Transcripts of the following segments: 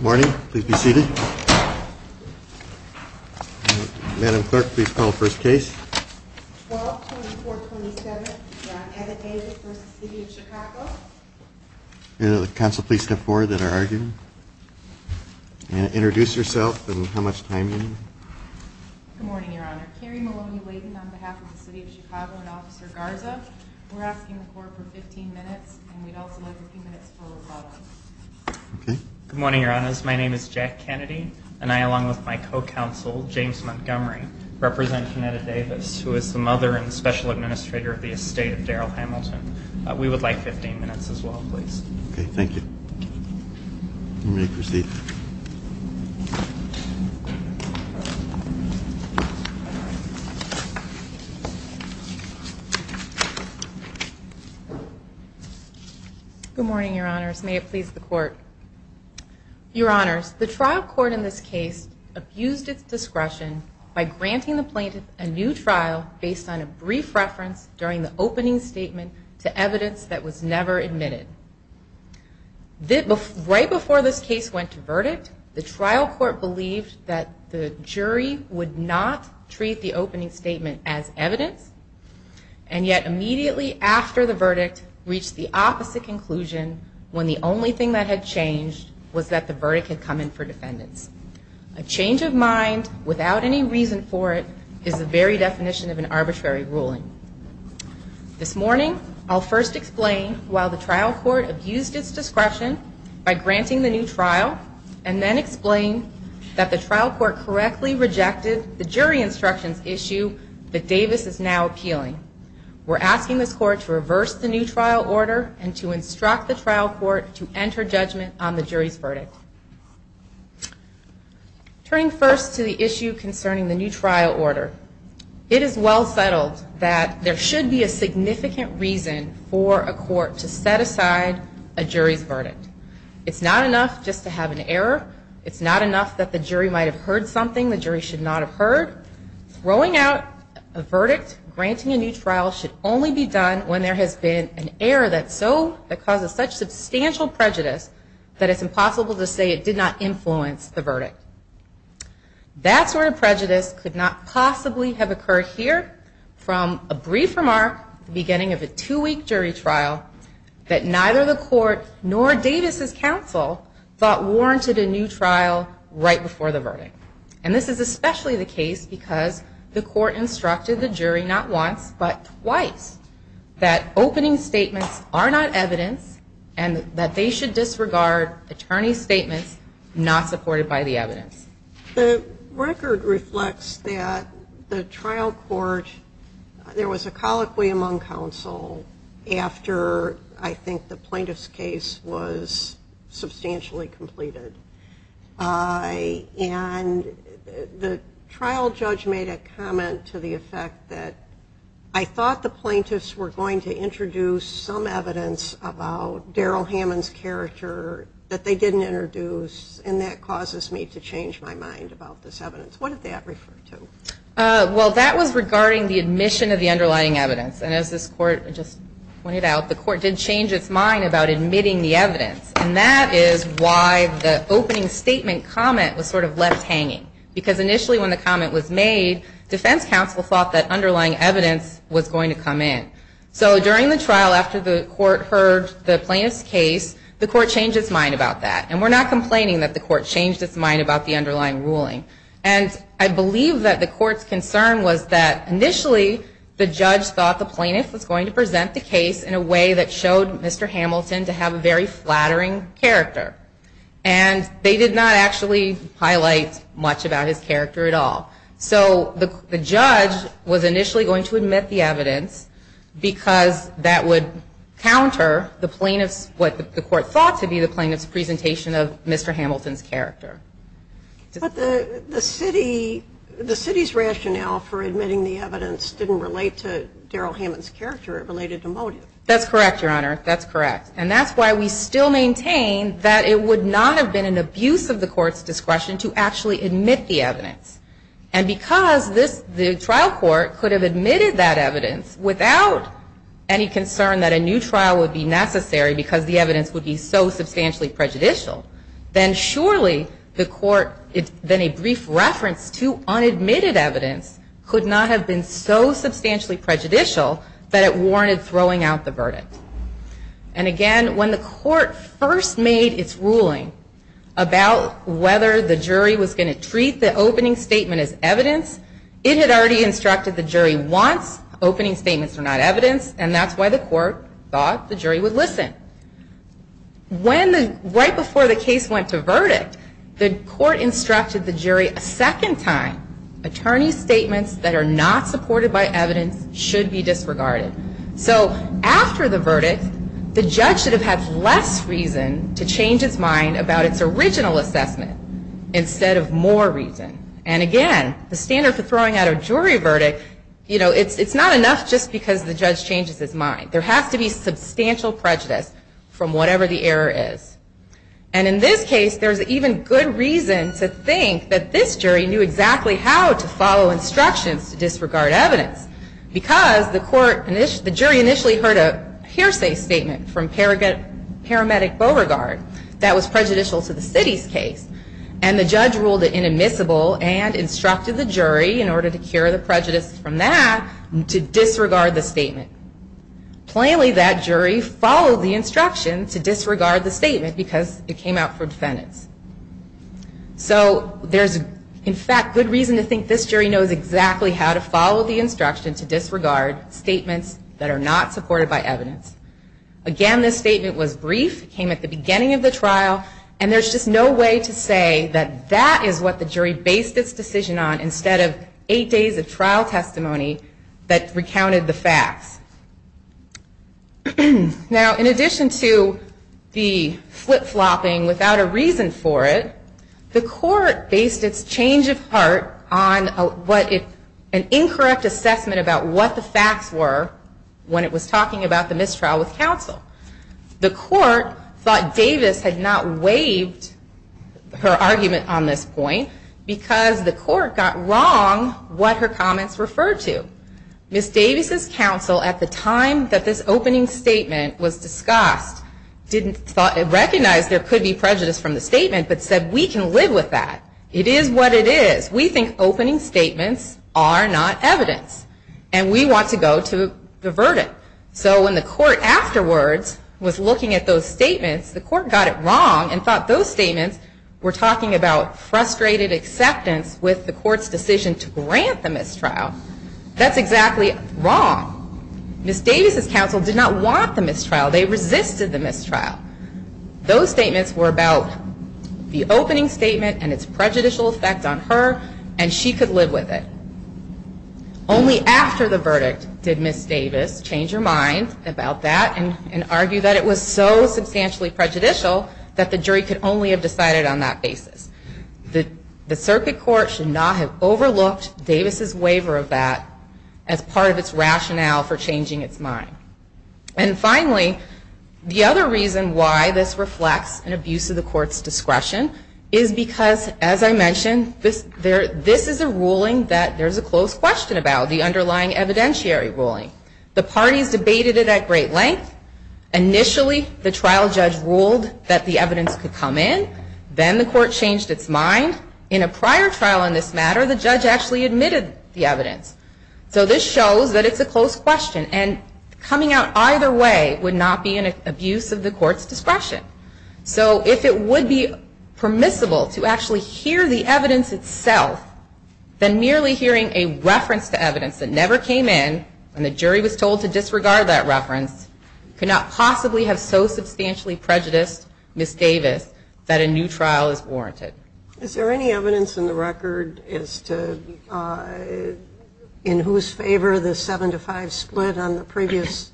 Morning. Please be seated. Madam Clerk, please call the first case. 12-24-27. We're on Edmonton Avenue v. City of Chicago. Council, please step forward that are arguing. Introduce yourself and how much time you need. Good morning, Your Honor. Carrie Maloney-Wayden on behalf of the City of Chicago and Officer Garza. We're asking the court for 15 minutes, and we'd also like a few minutes for rebuttal. Good morning, Your Honors. My name is Jack Kennedy, and I, along with my co-counsel, James Montgomery, represent Conetta Davis, who is the mother and special administrator of the estate of Darrell Hamilton. We would like 15 minutes as well, please. Okay. Thank you. You may proceed. Good morning, Your Honors. May it please the court. Your Honors, the trial court in this case abused its discretion by granting the plaintiff a new trial based on a brief reference during the opening statement to evidence that was never admitted. Right before this case went to verdict, the trial court believed that the jury would not treat the opening statement as evidence, and yet immediately after the verdict reached the opposite conclusion when the only thing that had changed was that the verdict had come in for defendants. A change of mind without any reason for it is the very definition of an arbitrary ruling. This morning, I'll first explain why the trial court abused its discretion by granting the new trial and then explain that the trial court correctly rejected the jury instructions issue that Davis is now appealing. We're asking this court to reverse the new trial order and to instruct the trial court to enter judgment on the jury's verdict. Turning first to the issue concerning the new trial order, it is well settled that there should be a significant reason for a court to set aside a jury's verdict. It's not enough just to have an error. It's not enough that the jury might have heard something the jury should not have heard. Throwing out a verdict granting a new trial should only be done when there has been an error that causes such substantial prejudice that it's impossible to say it did not influence the verdict. That sort of prejudice could not possibly have occurred here from a brief remark at the beginning of a two-week jury trial that neither the court nor Davis' counsel thought warranted a new trial right before the verdict. And this is especially the case because the court instructed the jury not once but twice that opening statements are not evidence and that they should disregard attorney's statements not supported by the evidence. The record reflects that the trial court, there was a colloquy among counsel after I think the plaintiff's case was substantially completed. And the trial judge made a comment to the effect that I thought the plaintiffs were going to introduce some evidence about Darrell Hammond's character that they didn't introduce and that causes me to change my mind about this evidence. What did that refer to? Well, that was regarding the admission of the underlying evidence. And as this court just pointed out, the court did change its mind about admitting the evidence. And that is why the opening statement comment was sort of left hanging because initially when the comment was made, defense counsel thought that underlying evidence was going to come in. So during the trial after the court heard the plaintiff's case, the court changed its mind about that. And we're not complaining that the court changed its mind about the underlying ruling. And I believe that the court's concern was that initially the judge thought the plaintiff was going to present the case in a way that showed Mr. Hamilton to have a very flattering character. And they did not actually highlight much about his character at all. So the judge was initially going to admit the evidence because that would counter the plaintiff's, what the court thought to be the plaintiff's presentation of Mr. Hamilton's character. But the city's rationale for admitting the evidence didn't relate to Darryl Hammond's character. It related to motive. That's correct, Your Honor. That's correct. And that's why we still maintain that it would not have been an abuse of the court's discretion to actually admit the evidence. And because the trial court could have admitted that evidence without any concern that a new trial would be necessary because the evidence would be so substantially prejudicial, then surely the court, then a brief reference to unadmitted evidence, could not have been so substantially prejudicial that it warranted throwing out the verdict. And again, when the court first made its ruling about whether the jury was going to treat the opening statement as evidence, it had already instructed the jury once, opening statements are not evidence, and that's why the court thought the jury would listen. When the, right before the case went to verdict, the court instructed the jury a second time, attorney's statements that are not supported by evidence should be disregarded. So after the verdict, the judge should have had less reason to change its mind about its original assessment instead of more reason. And again, the standard for throwing out a jury verdict, you know, it's not enough just because the judge changes his mind. There has to be substantial prejudice from whatever the error is. And in this case, there's even good reason to think that this jury knew exactly how to follow instructions to disregard evidence because the jury initially heard a hearsay statement from paramedic Beauregard that was prejudicial to the city's case, and the judge ruled it inadmissible and instructed the jury, in order to cure the prejudice from that, to disregard the statement. Plainly, that jury followed the instruction to disregard the statement because it came out for defendants. So there's, in fact, good reason to think this jury knows exactly how to follow the instruction to disregard statements that are not supported by evidence. Again, this statement was brief, came at the beginning of the trial, and there's just no way to say that that is what the jury based its decision on instead of eight days of trial testimony that recounted the facts. Now, in addition to the flip-flopping without a reason for it, the court based its change of heart on an incorrect assessment about what the facts were when it was talking about the mistrial with counsel. The court thought Davis had not waived her argument on this point because the court got wrong what her comments referred to. Ms. Davis' counsel, at the time that this opening statement was discussed, didn't recognize there could be prejudice from the statement, but said, we can live with that. It is what it is. We think opening statements are not evidence, and we want to go to the verdict. So when the court afterwards was looking at those statements, the court got it wrong and thought those statements were talking about frustrated acceptance with the court's decision to grant the mistrial. That's exactly wrong. Ms. Davis' counsel did not want the mistrial. They resisted the mistrial. Those statements were about the opening statement and its prejudicial effect on her, and she could live with it. Only after the verdict did Ms. Davis change her mind about that and argue that it was so substantially prejudicial that the jury could only have decided on that basis. The circuit court should not have overlooked Davis' waiver of that as part of its rationale for changing its mind. Finally, the other reason why this reflects an abuse of the court's discretion is because, as I mentioned, this is a ruling that there is a close question about, the underlying evidentiary ruling. The parties debated it at great length. Initially, the trial judge ruled that the evidence could come in. Then the court changed its mind. In a prior trial on this matter, the judge actually admitted the evidence. So this shows that it's a close question. And coming out either way would not be an abuse of the court's discretion. So if it would be permissible to actually hear the evidence itself, then merely hearing a reference to evidence that never came in and the jury was told to disregard that reference could not possibly have so substantially prejudiced Ms. Davis that a new trial is warranted. Is there any evidence in the record as to in whose favor the 7 to 5 split on the previous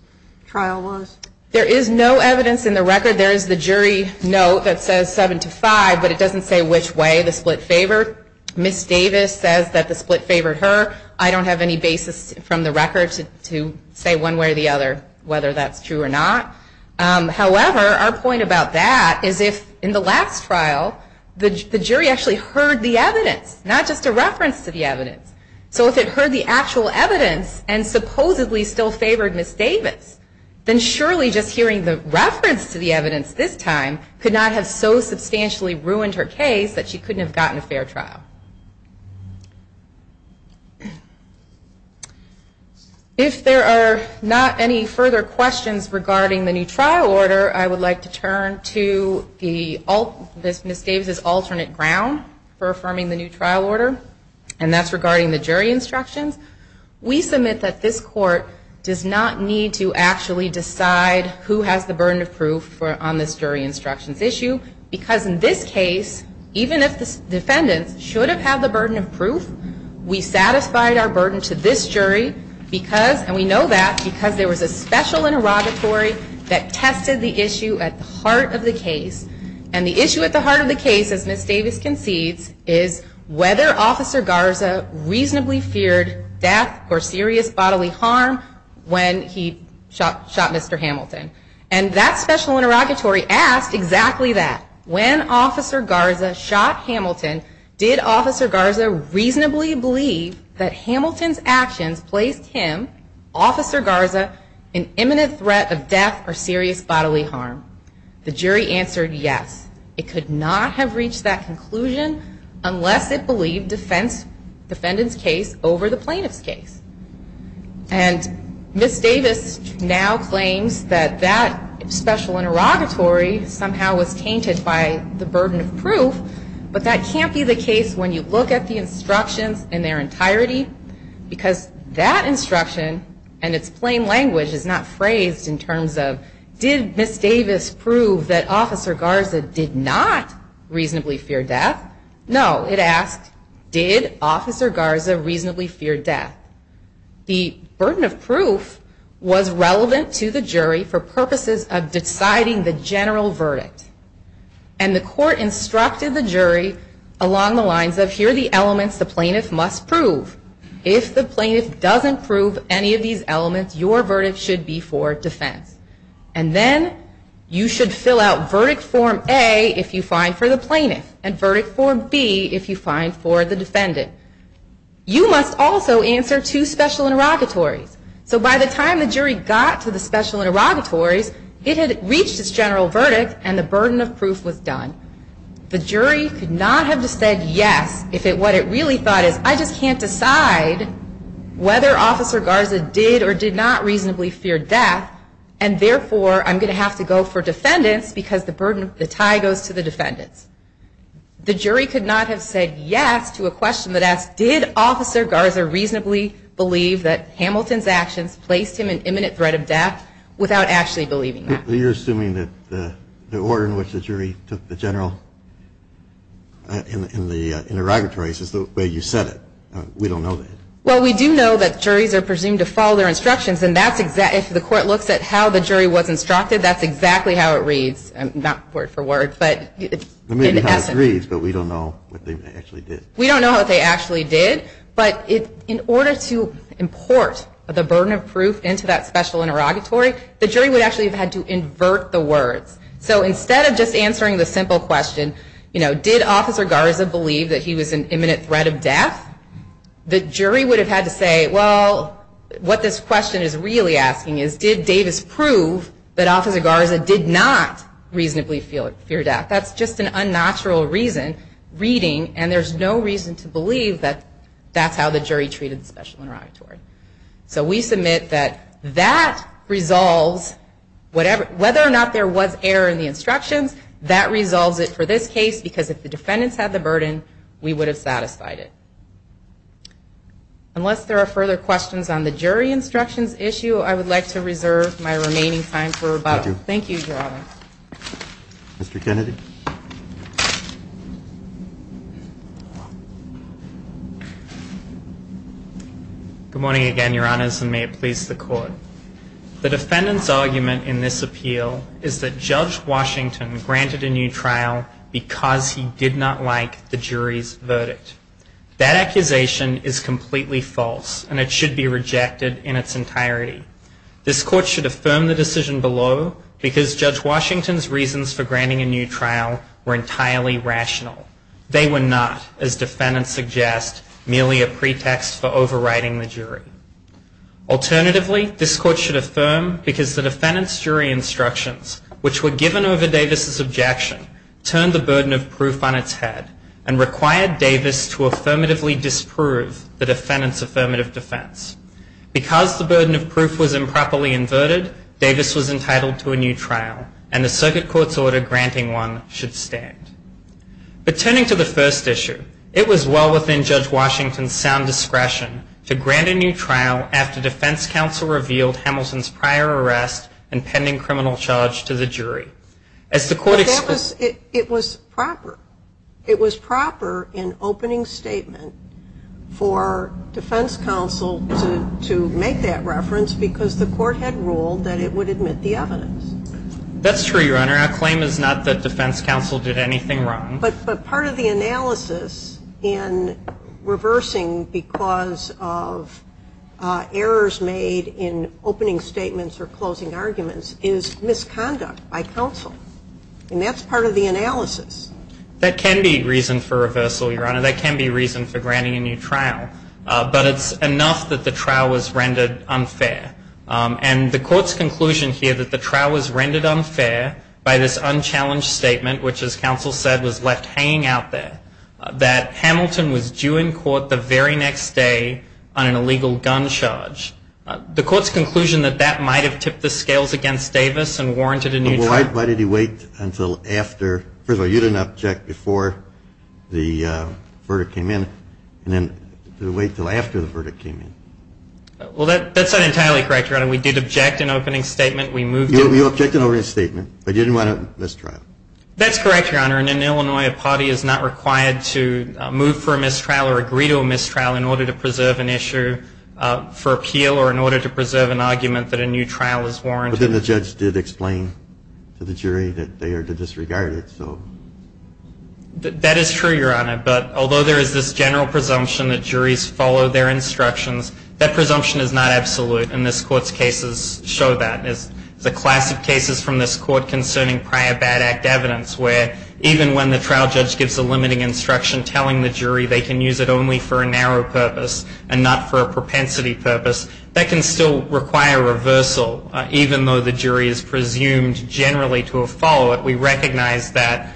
trial was? There is no evidence in the record. There is the jury note that says 7 to 5, but it doesn't say which way the split favored. Ms. Davis says that the split favored her. I don't have any basis from the record to say one way or the other whether that's true or not. However, our point about that is if in the last trial the jury actually heard the evidence, not just a reference to the evidence. So if it heard the actual evidence and supposedly still favored Ms. Davis, then surely just hearing the reference to the evidence this time could not have so substantially ruined her case that she couldn't have gotten a fair trial. If there are not any further questions regarding the new trial order, I would like to turn to Ms. Davis's alternate ground for affirming the new trial order, and that's regarding the jury instructions. We submit that this court does not need to actually decide who has the burden of proof on this jury instructions issue because in this case the defendants should have had the burden of proof. We satisfied our burden to this jury because, and we know that because there was a special interrogatory that tested the issue at the heart of the case. And the issue at the heart of the case, as Ms. Davis concedes, is whether Officer Garza reasonably feared death or serious bodily harm when he shot Mr. Hamilton. And that special interrogatory asked exactly that. When Officer Garza shot Hamilton, did Officer Garza reasonably believe that Hamilton's actions placed him, Officer Garza, in imminent threat of death or serious bodily harm? The jury answered yes. It could not have reached that conclusion unless it believed defendant's case over the plaintiff's case. And Ms. Davis now claims that that special interrogatory somehow was tainted by the burden of proof, but that can't be the case when you look at the instructions in their entirety because that instruction and its plain language is not phrased in terms of, did Ms. Davis prove that Officer Garza did not reasonably fear death? No. It asked, did Officer Garza reasonably fear death? The burden of proof was relevant to the jury for purposes of deciding the general verdict. And the court instructed the jury along the lines of, here are the elements the plaintiff must prove. If the plaintiff doesn't prove any of these elements, your verdict should be for defense. And then you should fill out verdict form A if you find for the plaintiff and verdict form B if you find for the defendant. You must also answer two special interrogatories. So by the time the jury got to the special interrogatories, it had reached its general verdict and the burden of proof was done. The jury could not have just said yes if what it really thought is, I just can't decide whether Officer Garza did or did not reasonably fear death, and therefore I'm going to have to go for defendants because the burden, the tie goes to the defendants. The jury could not have said yes to a question that asked, did Officer Garza reasonably believe that Hamilton's actions placed him in imminent threat of death without actually believing that? You're assuming that the order in which the jury took the general in the interrogatories is the way you said it. We don't know that. Well, we do know that juries are presumed to follow their instructions, and if the court looks at how the jury was instructed, that's exactly how it reads. Not word for word, but in essence. It may be how it reads, but we don't know what they actually did. We don't know what they actually did, but in order to import the burden of proof into that special interrogatory, the jury would actually have had to invert the words. So instead of just answering the simple question, you know, did Officer Garza believe that he was in imminent threat of death? The jury would have had to say, well, what this question is really asking is, did Davis prove that Officer Garza did not reasonably fear death? That's just an unnatural reason, reading, and there's no reason to believe that that's how the jury treated the special interrogatory. So we submit that that resolves, whether or not there was error in the instructions, that resolves it for this case, because if the defendants had the burden, we would have satisfied it. Unless there are further questions on the jury instructions issue, I would like to reserve my remaining time for rebuttal. Thank you, Your Honor. Mr. Kennedy. Good morning again, Your Honors, and may it please the Court. The defendant's argument in this appeal is that Judge Washington granted a new trial because he did not like the jury's verdict. That accusation is completely false, and it should be rejected in its entirety. This Court should affirm the decision below because Judge Washington's reasons for granting a new trial were entirely rational. They were not, as defendants suggest, merely a pretext for overriding the jury. Alternatively, this Court should affirm because the defendant's jury instructions, which were given over Davis's objection, turned the burden of proof on its head and required Davis to affirmatively disprove the defendant's affirmative defense. Because the burden of proof was improperly inverted, Davis was entitled to a new trial, and the circuit court's order granting one should stand. But turning to the first issue, it was well within Judge Washington's sound discretion to grant a new trial after defense counsel revealed Hamilton's prior arrest and pending criminal charge to the jury. It was proper. It was proper in opening statement for defense counsel to make that reference because the Court had ruled that it would admit the evidence. That's true, Your Honor. Our claim is not that defense counsel did anything wrong. But part of the analysis in reversing because of errors made in opening statements or closing arguments is misconduct by counsel. And that's part of the analysis. That can be reason for reversal, Your Honor. That can be reason for granting a new trial. But it's enough that the trial was rendered unfair. And the Court's conclusion here that the trial was rendered unfair by this unchallenged statement, which, as counsel said, was left hanging out there, that Hamilton was due in court the very next day on an illegal gun charge. The Court's conclusion that that might have tipped the scales against Davis and warranted a new trial. Well, why did he wait until after? First of all, you didn't object before the verdict came in. And then did he wait until after the verdict came in? Well, that's not entirely correct, Your Honor. We did object in opening statement. You objected in opening statement, but you didn't want a mistrial. That's correct, Your Honor. And in Illinois, a party is not required to move for a mistrial or agree to a mistrial in order to preserve an issue for appeal or in order to preserve an argument that a new trial is warranted. But then the judge did explain to the jury that they are to disregard it. That is true, Your Honor. But although there is this general presumption that juries follow their instructions, that presumption is not absolute, and this Court's cases show that. There's a class of cases from this Court concerning prior bad act evidence where even when the trial judge gives a limiting instruction telling the jury they can use it only for a narrow purpose and not for a propensity purpose, that can still require reversal, even though the jury is presumed generally to have followed it. We recognize that,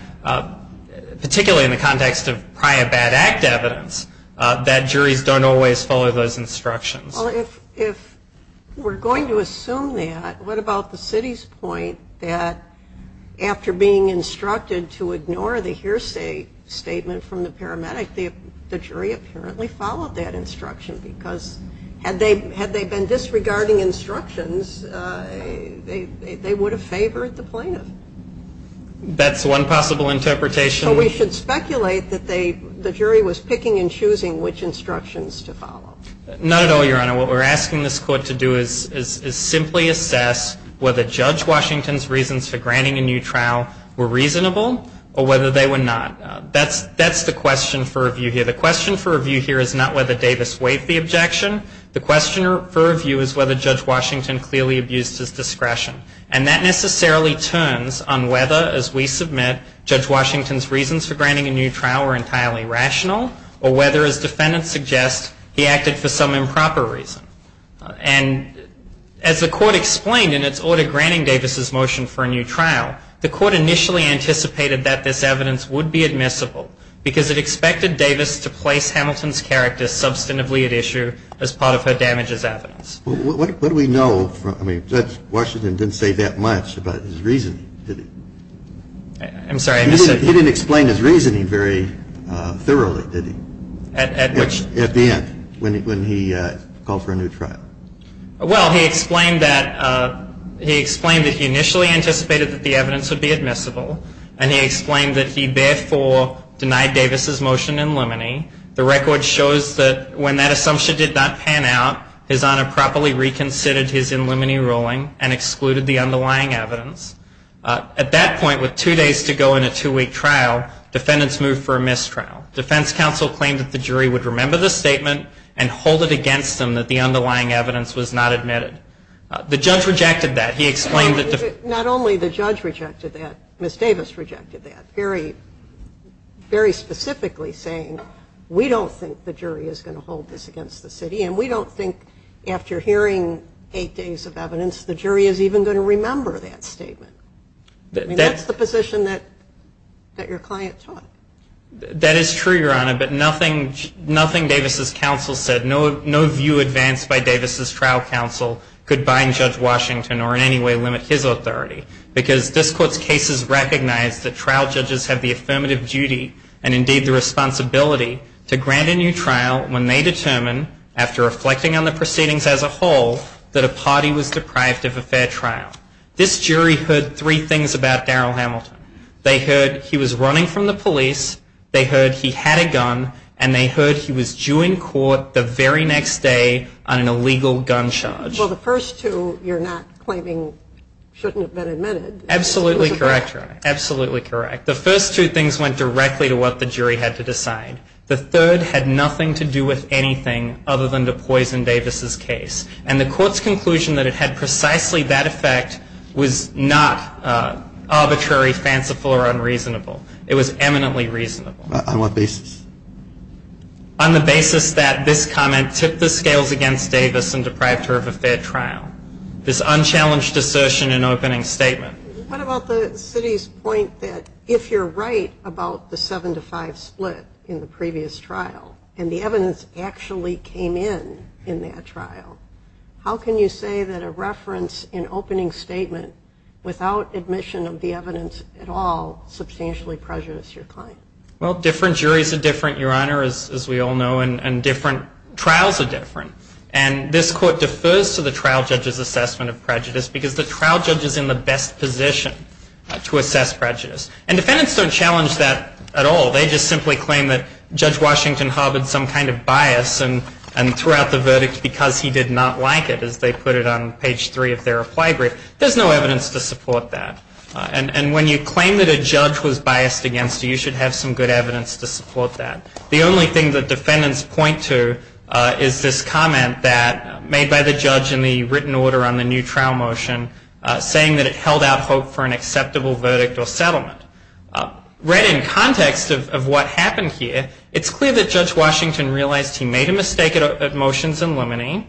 particularly in the context of prior bad act evidence, that juries don't always follow those instructions. Well, if we're going to assume that, what about the city's point that after being instructed to ignore the hearsay statement from the paramedic, the jury apparently followed that instruction because had they been disregarding instructions, they would have favored the plaintiff. That's one possible interpretation. So we should speculate that the jury was picking and choosing which instructions to follow. Not at all, Your Honor. What we're asking this Court to do is simply assess whether Judge Washington's reasons for granting a new trial were reasonable or whether they were not. That's the question for review here. The question for review here is not whether Davis waived the objection. The question for review is whether Judge Washington clearly abused his discretion. And that necessarily turns on whether, as we submit, Judge Washington's reasons for granting a new trial were entirely rational or whether, as defendants suggest, he acted for some improper reason. And as the Court explained in its order granting Davis's motion for a new trial, the Court initially anticipated that this evidence would be admissible because it expected Davis to place Hamilton's character substantively at issue as part of her damages evidence. What do we know? I mean, Judge Washington didn't say that much about his reasoning, did he? I'm sorry. He didn't explain his reasoning very thoroughly, did he? At which? At the end, when he called for a new trial. Well, he explained that he initially anticipated that the evidence would be admissible and he explained that he therefore denied Davis's motion in limine. The record shows that when that assumption did not pan out, his Honor properly reconsidered his in limine ruling and excluded the underlying evidence. At that point, with two days to go in a two-week trial, defendants moved for a mistrial. Defense counsel claimed that the jury would remember the statement and hold it against them that the underlying evidence was not admitted. The judge rejected that. Not only the judge rejected that, Ms. Davis rejected that, very specifically saying we don't think the jury is going to hold this against the city and we don't think after hearing eight days of evidence, the jury is even going to remember that statement. That's the position that your client took. That is true, Your Honor, but nothing Davis's counsel said, no view advanced by Davis's trial counsel could bind Judge Washington or in any way limit his authority, because this Court's cases recognize that trial judges have the affirmative duty and indeed the responsibility to grant a new trial when they determine, after reflecting on the proceedings as a whole, that a party was deprived of a fair trial. This jury heard three things about Darrell Hamilton. They heard he was running from the police, they heard he had a gun, and they heard he was due in court the very next day on an illegal gun charge. Well, the first two you're not claiming shouldn't have been admitted. Absolutely correct, Your Honor. Absolutely correct. The first two things went directly to what the jury had to decide. The third had nothing to do with anything other than to poison Davis's case, and the Court's conclusion that it had precisely that effect was not arbitrary, fanciful, or unreasonable. It was eminently reasonable. On what basis? On the basis that this comment tipped the scales against Davis and deprived her of a fair trial. This unchallenged assertion in opening statement. What about the city's point that if you're right about the seven-to-five split in the previous trial and the evidence actually came in in that trial, how can you say that a reference in opening statement without admission of the evidence at all would substantially prejudice your claim? Well, different juries are different, Your Honor, as we all know, and different trials are different. And this Court defers to the trial judge's assessment of prejudice because the trial judge is in the best position to assess prejudice. And defendants don't challenge that at all. They just simply claim that Judge Washington harbored some kind of bias and threw out the verdict because he did not like it, as they put it on page three of their reply brief. There's no evidence to support that. And when you claim that a judge was biased against you, you should have some good evidence to support that. The only thing that defendants point to is this comment that, made by the judge in the written order on the new trial motion, saying that it held out hope for an acceptable verdict or settlement. Read in context of what happened here, it's clear that Judge Washington realized he made a mistake at motions in limine.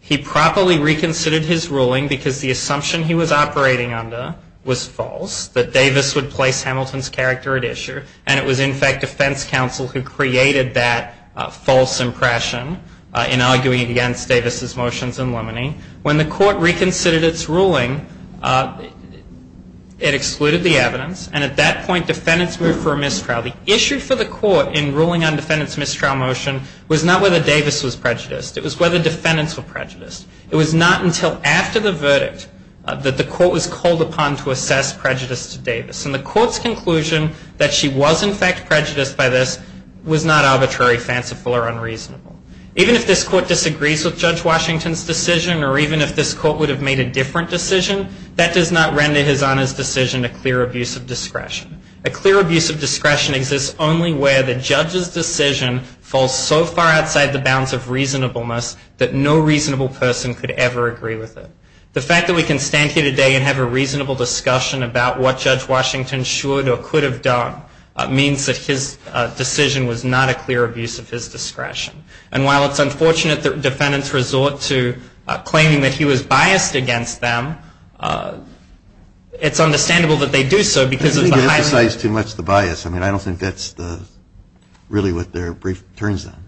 He properly reconsidered his ruling because the assumption he was operating under was false, that Davis would place Hamilton's character at issue. And it was, in fact, defense counsel who created that false impression in arguing against Davis's motions in limine. When the Court reconsidered its ruling, it excluded the evidence. And at that point, defendants moved for a mistrial. The issue for the Court in ruling on defendants' mistrial motion was not whether Davis was prejudiced. It was whether defendants were prejudiced. It was not until after the verdict that the Court was called upon to assess prejudice to Davis. And the Court's conclusion that she was, in fact, prejudiced by this was not arbitrary, fanciful, or unreasonable. Even if this Court disagrees with Judge Washington's decision or even if this Court would have made a different decision, that does not render his Honor's decision a clear abuse of discretion. A clear abuse of discretion exists only where the judge's decision falls so far outside the bounds of reasonableness that no reasonable person could ever agree with it. The fact that we can stand here today and have a reasonable discussion about what Judge Washington should or could have done means that his decision was not a clear abuse of his discretion. And while it's unfortunate that defendants resort to claiming that he was biased against them, it's understandable that they do so because of the high... I don't think you emphasize too much the bias. I mean, I don't think that's really what their brief turns on.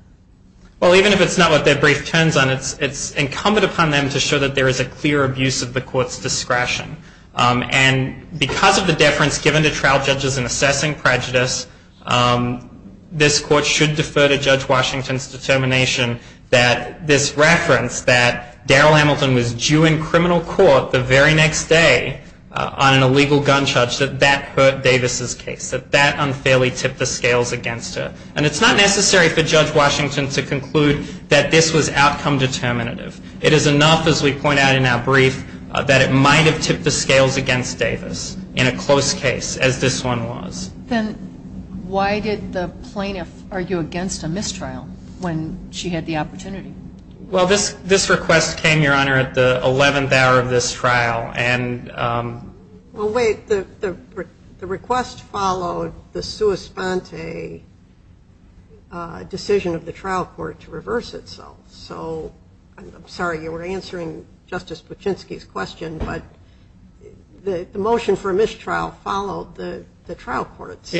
Well, even if it's not what their brief turns on, it's incumbent upon them to show that there is a clear abuse of the Court's discretion. And because of the deference given to trial judges in assessing prejudice, this Court should defer to Judge Washington's determination that this reference that Daryl Hamilton was due in criminal court the very next day on an illegal gun charge, that that hurt Davis's case, that that unfairly tipped the scales against her. And it's not necessary for Judge Washington to conclude that this was outcome determinative. It is enough, as we point out in our brief, that it might have tipped the scales against Davis in a close case, as this one was. Then why did the plaintiff argue against a mistrial when she had the opportunity? Well, this request came, Your Honor, at the 11th hour of this trial. Well, wait. The request followed the sua sponte decision of the trial court to reverse itself. So I'm sorry. You were answering Justice Buczynski's question. But the motion for a mistrial followed the trial court's.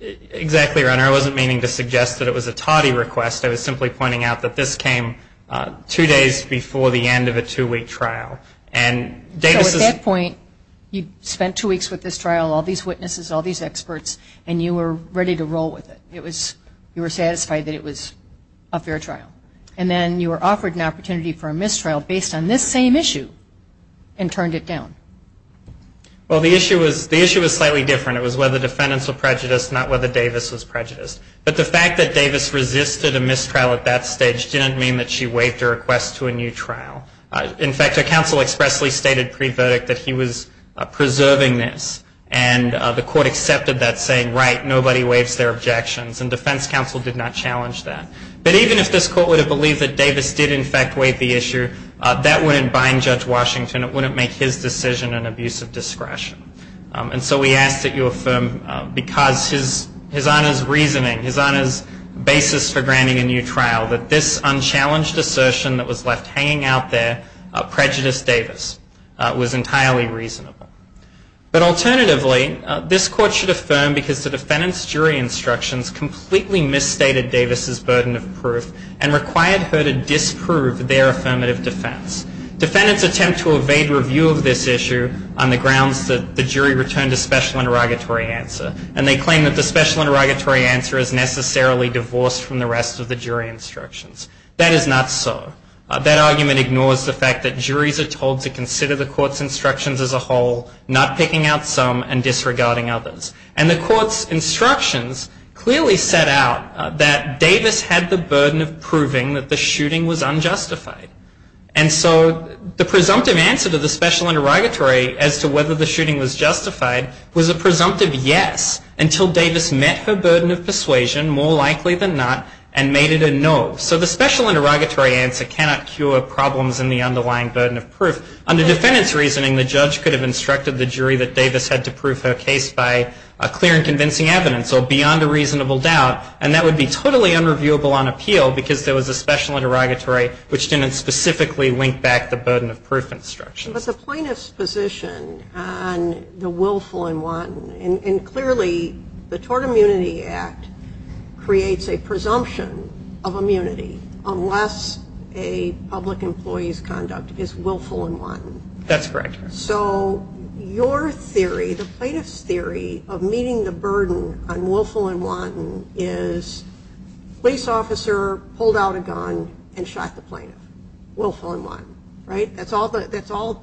Exactly, Your Honor. I wasn't meaning to suggest that it was a tawdy request. I was simply pointing out that this came two days before the end of a two-week trial. So at that point, you spent two weeks with this trial, all these witnesses, all these experts, and you were ready to roll with it. You were satisfied that it was a fair trial. And then you were offered an opportunity for a mistrial based on this same issue and turned it down. Well, the issue was slightly different. It was whether defendants were prejudiced, not whether Davis was prejudiced. But the fact that Davis resisted a mistrial at that stage didn't mean that she waived her request to a new trial. In fact, her counsel expressly stated pre-verdict that he was preserving this. And the court accepted that saying, right, nobody waives their objections. And defense counsel did not challenge that. But even if this court would have believed that Davis did, in fact, waive the issue, that wouldn't bind Judge Washington. It wouldn't make his decision an abuse of discretion. And so we ask that you affirm, because his Honor's reasoning, his Honor's basis for granting a new trial, that this unchallenged assertion that was left hanging out there prejudiced Davis was entirely reasonable. But alternatively, this court should affirm, because the defendant's jury instructions completely misstated Davis' burden of proof and required her to disprove their affirmative defense. Defendants attempt to evade review of this issue on the grounds that the jury returned a special interrogatory answer. And they claim that the special interrogatory answer is necessarily divorced from the rest of the jury instructions. That is not so. That argument ignores the fact that juries are told to consider the court's instructions as a whole, not picking out some and disregarding others. And the court's instructions clearly set out that Davis had the burden of proving that the shooting was unjustified. And so the presumptive answer to the special interrogatory as to whether the shooting was justified was a presumptive yes, until Davis met her burden of persuasion, more likely than not, and made it a no. So the special interrogatory answer cannot cure problems in the underlying burden of proof. Under defendant's reasoning, the judge could have instructed the jury that Davis had to prove her case by clear and convincing evidence or beyond a reasonable doubt, and that would be totally unreviewable on appeal, because there was a special interrogatory which didn't specifically link back to the burden of proof instructions. But the plaintiff's position on the willful and wanton, and clearly the Tort Immunity Act creates a presumption of immunity unless a public employee's conduct is willful and wanton. That's correct. So your theory, the plaintiff's theory of meeting the burden on willful and wanton is police officer pulled out a gun and shot the plaintiff, willful and wanton, right? That's all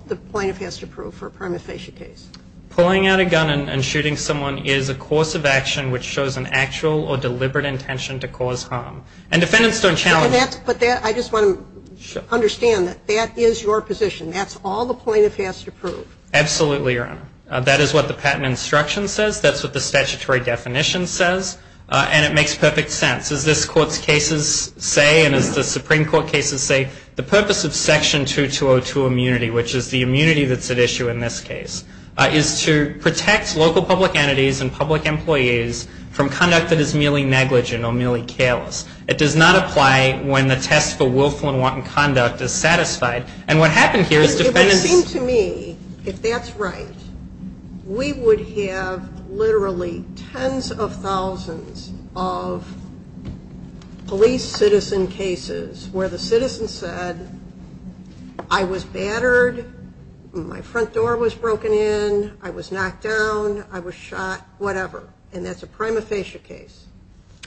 the plaintiff has to prove for a prima facie case. Pulling out a gun and shooting someone is a course of action which shows an actual or deliberate intention to cause harm. And defendants don't challenge that. But I just want to understand that that is your position. That's all the plaintiff has to prove. Absolutely, Your Honor. That is what the patent instruction says. That's what the statutory definition says. And it makes perfect sense. As this Court's cases say and as the Supreme Court cases say, the purpose of Section 2202 immunity, which is the immunity that's at issue in this case, is to protect local public entities and public employees from conduct that is merely negligent or merely careless. It does not apply when the test for willful and wanton conduct is satisfied. And what happened here is defendants... It would seem to me, if that's right, we would have literally tens of thousands of police citizen cases where the citizen said, I was battered, my front door was broken in, I was knocked down, I was shot, whatever. And that's a prima facie case.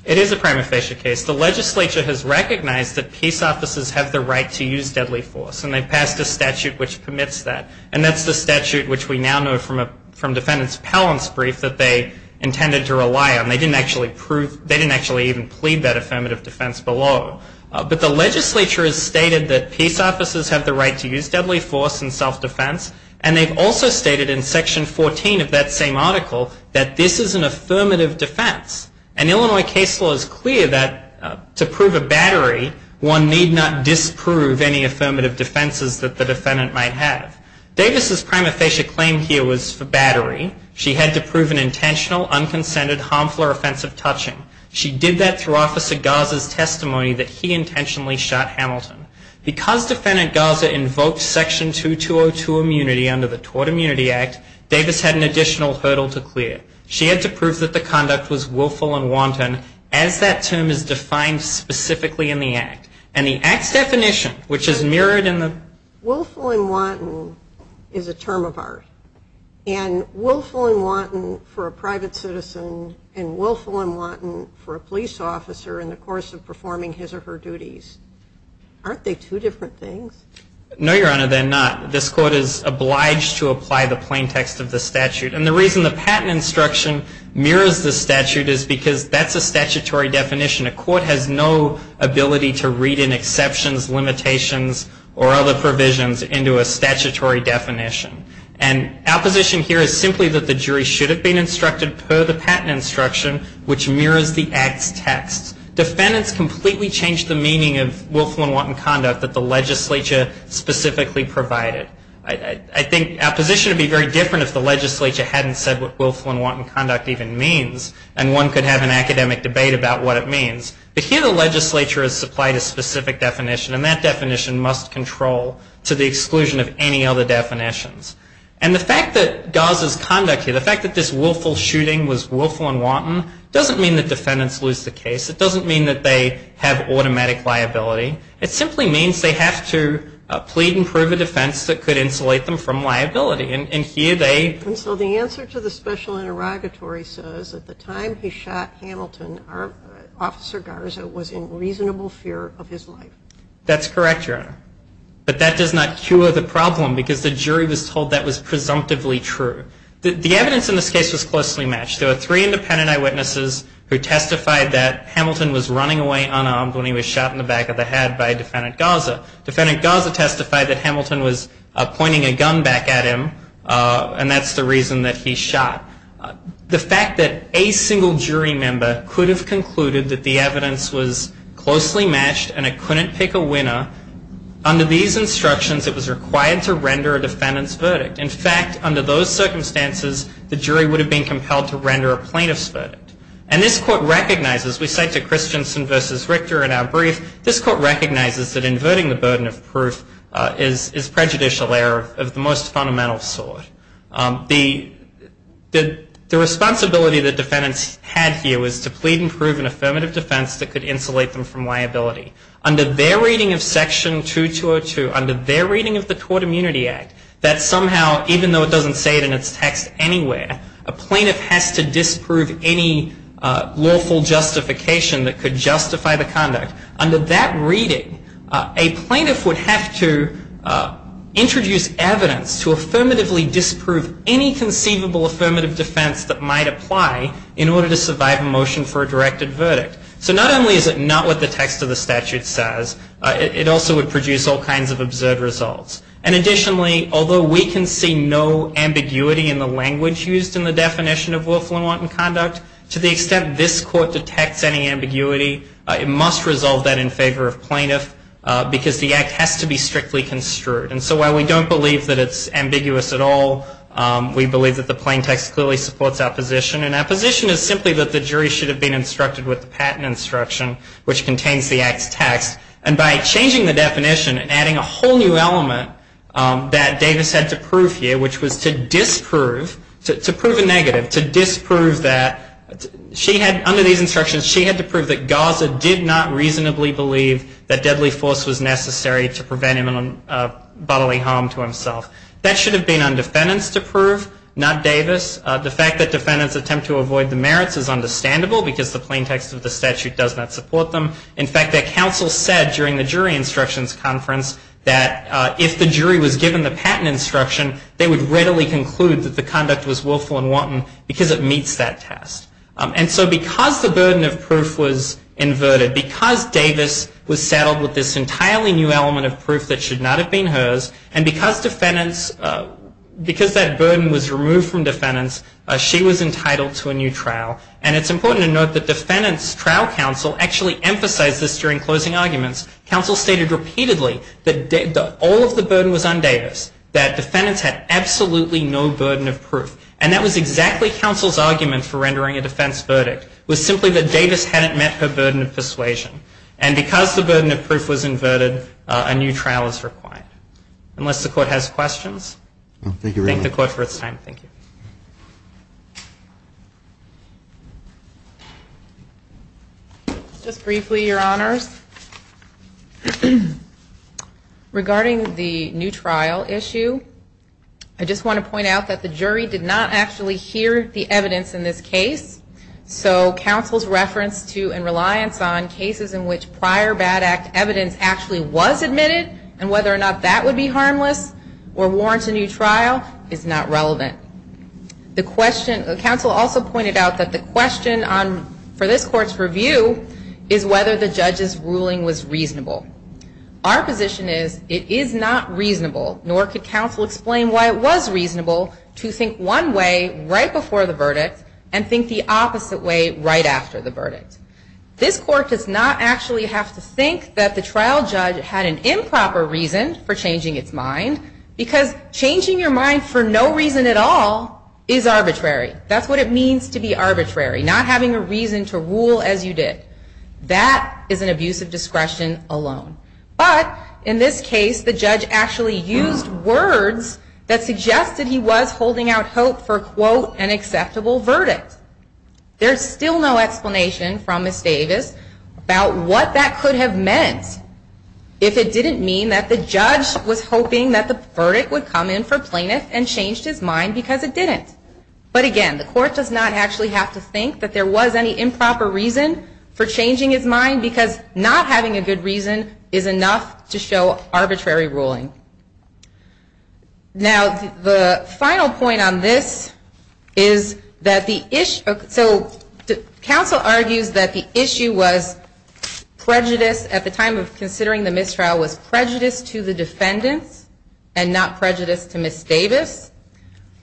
It is a prima facie case. The legislature has recognized that peace officers have the right to use deadly force. And they passed a statute which permits that. And that's the statute which we now know from defendant's appellant's brief that they intended to rely on. They didn't actually prove... They didn't actually even plead that affirmative defense below. But the legislature has stated that peace officers have the right to use deadly force and self-defense. And they've also stated in Section 14 of that same article that this is an affirmative defense. And Illinois case law is clear that to prove a battery, one need not disprove any affirmative defenses that the defendant might have. Davis' prima facie claim here was for battery. She had to prove an intentional, unconsented, harmful, or offensive touching. She did that through Officer Garza's testimony that he intentionally shot Hamilton. Because defendant Garza invoked Section 2202 immunity under the Tort Immunity Act, Davis had an additional hurdle to clear. She had to prove that the conduct was willful and wanton as that term is defined specifically in the Act. And the Act's definition, which is mirrored in the... Willful and wanton is a term of art. And willful and wanton for a private citizen and willful and wanton for a police officer in the course of performing his or her duties. Aren't they two different things? No, Your Honor, they're not. This Court is obliged to apply the plain text of the statute. And the reason the patent instruction mirrors the statute is because that's a statutory definition. A court has no ability to read in exceptions, limitations, or other provisions into a statutory definition. And our position here is simply that the jury should have been instructed per the patent instruction, which mirrors the Act's text. Defendants completely changed the meaning of willful and wanton conduct that the legislature specifically provided. I think our position would be very different if the legislature hadn't said what willful and wanton conduct even means. And one could have an academic debate about what it means. But here the legislature has supplied a specific definition. And that definition must control to the exclusion of any other definitions. And the fact that Gaza's conduct here, the fact that this willful shooting was willful and wanton, doesn't mean that defendants lose the case. It doesn't mean that they have automatic liability. It simply means they have to plead and prove a defense that could insulate them from liability. And here they ---- And so the answer to the special interrogatory says that the time he shot Hamilton, Officer Garza was in reasonable fear of his life. That's correct, Your Honor. But that does not cure the problem because the jury was told that was presumptively true. The evidence in this case was closely matched. There were three independent eyewitnesses who testified that Hamilton was running away unarmed when he was shot in the back of the head by Defendant Garza. Defendant Garza testified that Hamilton was pointing a gun back at him. And that's the reason that he shot. The fact that a single jury member could have concluded that the evidence was closely matched and it couldn't pick a winner, under these instructions it was required to render a defendant's verdict. In fact, under those circumstances, the jury would have been compelled to render a plaintiff's verdict. And this Court recognizes, we cite to Christensen v. Richter in our brief, this Court recognizes that inverting the burden of proof is prejudicial error of the most fundamental sort. The responsibility that defendants had here was to plead and prove an affirmative defense that could insulate them from liability. Under their reading of Section 2202, under their reading of the Tort Immunity Act, that somehow, even though it doesn't say it in its text anywhere, a plaintiff has to disprove any lawful justification that could justify the conduct. Under that reading, a plaintiff would have to introduce evidence to affirmatively disprove any conceivable affirmative defense that might apply in order to survive a motion for a directed verdict. So not only is it not what the text of the statute says, it also would produce all kinds of absurd results. And additionally, although we can see no ambiguity in the language used in the definition of willful and wanton conduct, to the extent this Court detects any ambiguity, it must resolve that in favor of plaintiff, because the act has to be strictly construed. And so while we don't believe that it's ambiguous at all, we believe that the plain text clearly supports our position. And our position is simply that the jury should have been instructed with the patent instruction, which contains the act's text. And by changing the definition and adding a whole new element that Davis had to prove here, which was to disprove, to prove a negative, to disprove that she had, under these instructions, she had to prove that Garza did not reasonably believe that deadly force was necessary to prevent him bodily harm to himself. That should have been on defendants to prove, not Davis. The fact that defendants attempt to avoid the merits is understandable, because the plain text of the statute does not support them. In fact, their counsel said during the jury instructions conference, that if the jury was given the patent instruction, they would readily conclude that the conduct was willful and wanton, because it meets that test. And so because the burden of proof was inverted, because Davis was settled with this entirely new element of proof that should not have been hers, and because defendants, because that burden was removed from defendants, she was entitled to a new trial. And it's important to note that defendants' trial counsel actually emphasized this during closing arguments. Counsel stated repeatedly that all of the burden was on Davis, that defendants had absolutely no burden of proof. And that was exactly counsel's argument for rendering a defense verdict, was simply that Davis hadn't met her burden of persuasion. And because the burden of proof was inverted, a new trial is required. Unless the court has questions. Thank you very much. Thank the court for its time. Thank you. Just briefly, your honors. Regarding the new trial issue, I just want to point out that the jury did not actually hear the evidence in this case. So counsel's reference to and reliance on cases in which prior bad act evidence actually was admitted and whether or not that would be harmless or warrant a new trial is not relevant. Counsel also pointed out that the question for this court's review is whether the judge's ruling was reasonable. Our position is it is not reasonable, nor could counsel explain why it was reasonable to think one way right before the verdict and think the opposite way right after the verdict. This court does not actually have to think that the trial judge had an improper reason for changing its mind, because changing your mind for no reason at all is arbitrary. That's what it means to be arbitrary, not having a reason to rule as you did. That is an abuse of discretion alone. But in this case, the judge actually used words that suggested he was holding out hope for, quote, an acceptable verdict. There's still no explanation from Ms. Davis about what that could have meant if it didn't mean that the judge was hoping that the verdict would come in for plaintiff and changed his mind because it didn't. But again, the court does not actually have to think that there was any improper reason for changing his mind, because not having a good reason is enough to show arbitrary ruling. Now, the final point on this is that the issue, so counsel argues that the issue was prejudice, at the time of considering the mistrial, was prejudice to the defendants and not prejudice to Ms. Davis,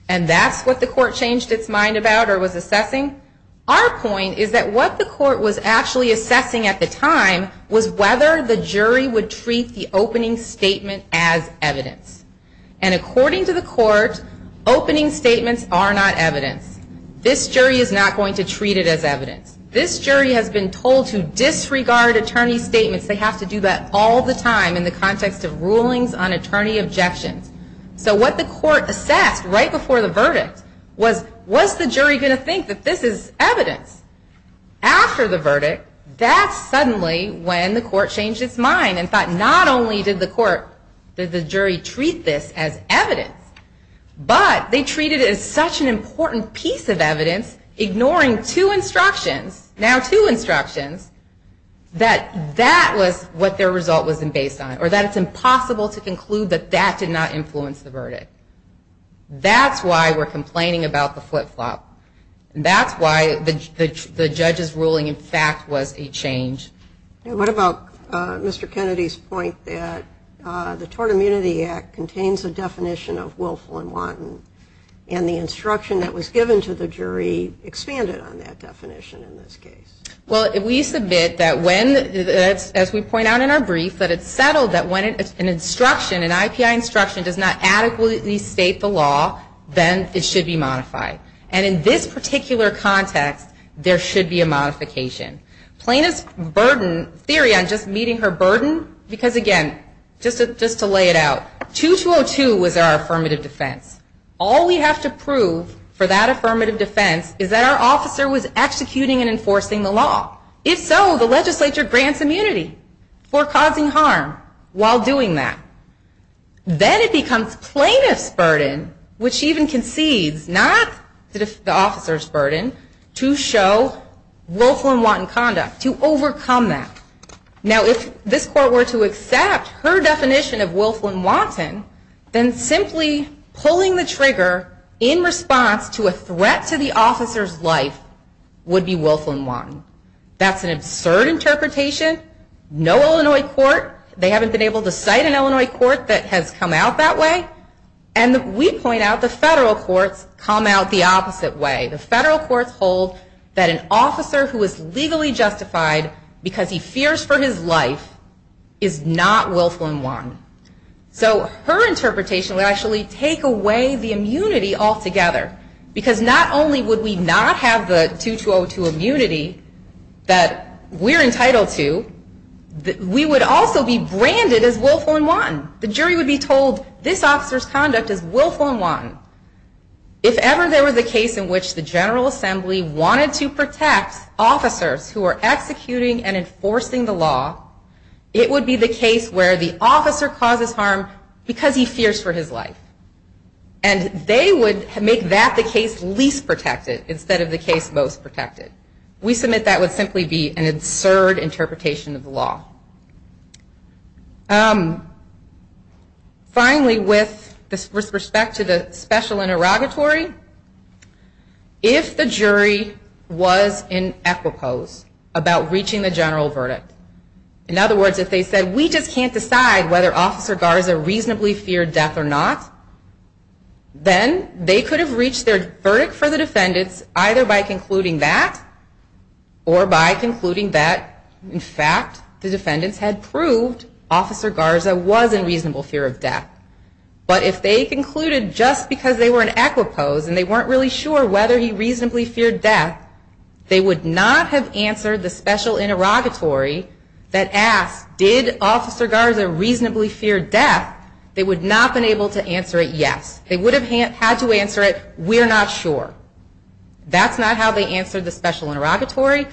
and that's what the court changed its mind about or was assessing. Our point is that what the court was actually assessing at the time was whether the jury would treat the opening statement as evidence. And according to the court, opening statements are not evidence. This jury is not going to treat it as evidence. This jury has been told to disregard attorney statements. They have to do that all the time in the context of rulings on attorney objections. So what the court assessed right before the verdict was, was the jury going to think that this is evidence? After the verdict, that's suddenly when the court changed its mind and thought not only did the jury treat this as evidence, but they treated it as such an important piece of evidence, ignoring two instructions, now two instructions, that that was what their result was based on, or that it's impossible to conclude that that did not influence the verdict. That's why we're complaining about the flip-flop. That's why the judge's ruling in fact was a change. What about Mr. Kennedy's point that the Tort Immunity Act contains a definition of willful and wanton, and the instruction that was given to the jury expanded on that definition in this case? Well, we submit that when, as we point out in our brief, that it's settled that when an instruction, an IPI instruction does not adequately state the law, then it should be modified. And in this particular context, there should be a modification. Plaintiff's theory on just meeting her burden, because again, just to lay it out, 2202 was our affirmative defense. All we have to prove for that affirmative defense is that our officer was executing and enforcing the law. If so, the legislature grants immunity for causing harm while doing that. Then it becomes plaintiff's burden, which even concedes, not the officer's burden, to show willful and wanton conduct. To overcome that. Now, if this court were to accept her definition of willful and wanton, then simply pulling the trigger in response to a threat to the officer's life would be willful and wanton. That's an absurd interpretation. No Illinois court, they haven't been able to cite an Illinois court that has come out that way. And we point out the federal courts come out the opposite way. The federal courts hold that an officer who is legally justified because he fears for his life is not willful and wanton. So her interpretation would actually take away the immunity altogether. Because not only would we not have the 2202 immunity that we're entitled to, we would also be branded as willful and wanton. The jury would be told this officer's conduct is willful and wanton. If ever there was a case in which the General Assembly wanted to protect officers who are executing and enforcing the law, it would be the case where the officer causes harm because he fears for his life. And they would make that the case least protected instead of the case most protected. We submit that would simply be an absurd interpretation of the law. Finally, with respect to the special interrogatory, if the jury was in equipoise about reaching the general verdict, in other words, if they said we just can't decide whether Officer Garza reasonably feared death or not, then they could have reached their verdict for the defendants either by concluding that or by concluding that, in fact, the defendants had proved Officer Garza was in reasonable fear of death. But if they concluded just because they were in equipoise and they weren't really sure whether he reasonably feared death, they would not have answered the special interrogatory that asked, did Officer Garza reasonably fear death, they would not have been able to answer it yes. They would have had to answer it, we're not sure. That's not how they answered the special interrogatory.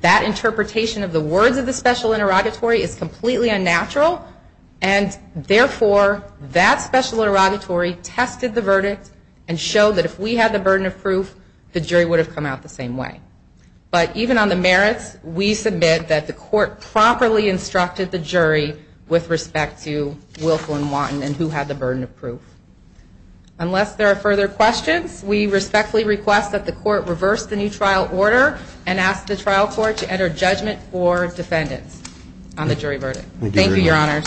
That interpretation of the words of the special interrogatory is completely unnatural, and therefore that special interrogatory tested the verdict and showed that if we had the burden of proof, the jury would have come out the same way. But even on the merits, we submit that the court properly instructed the jury with respect to Wilco and Watten and who had the burden of proof. Unless there are further questions, we respectfully request that the court reverse the new trial order and ask the trial court to enter judgment for defendants on the jury verdict. Thank you, Your Honors.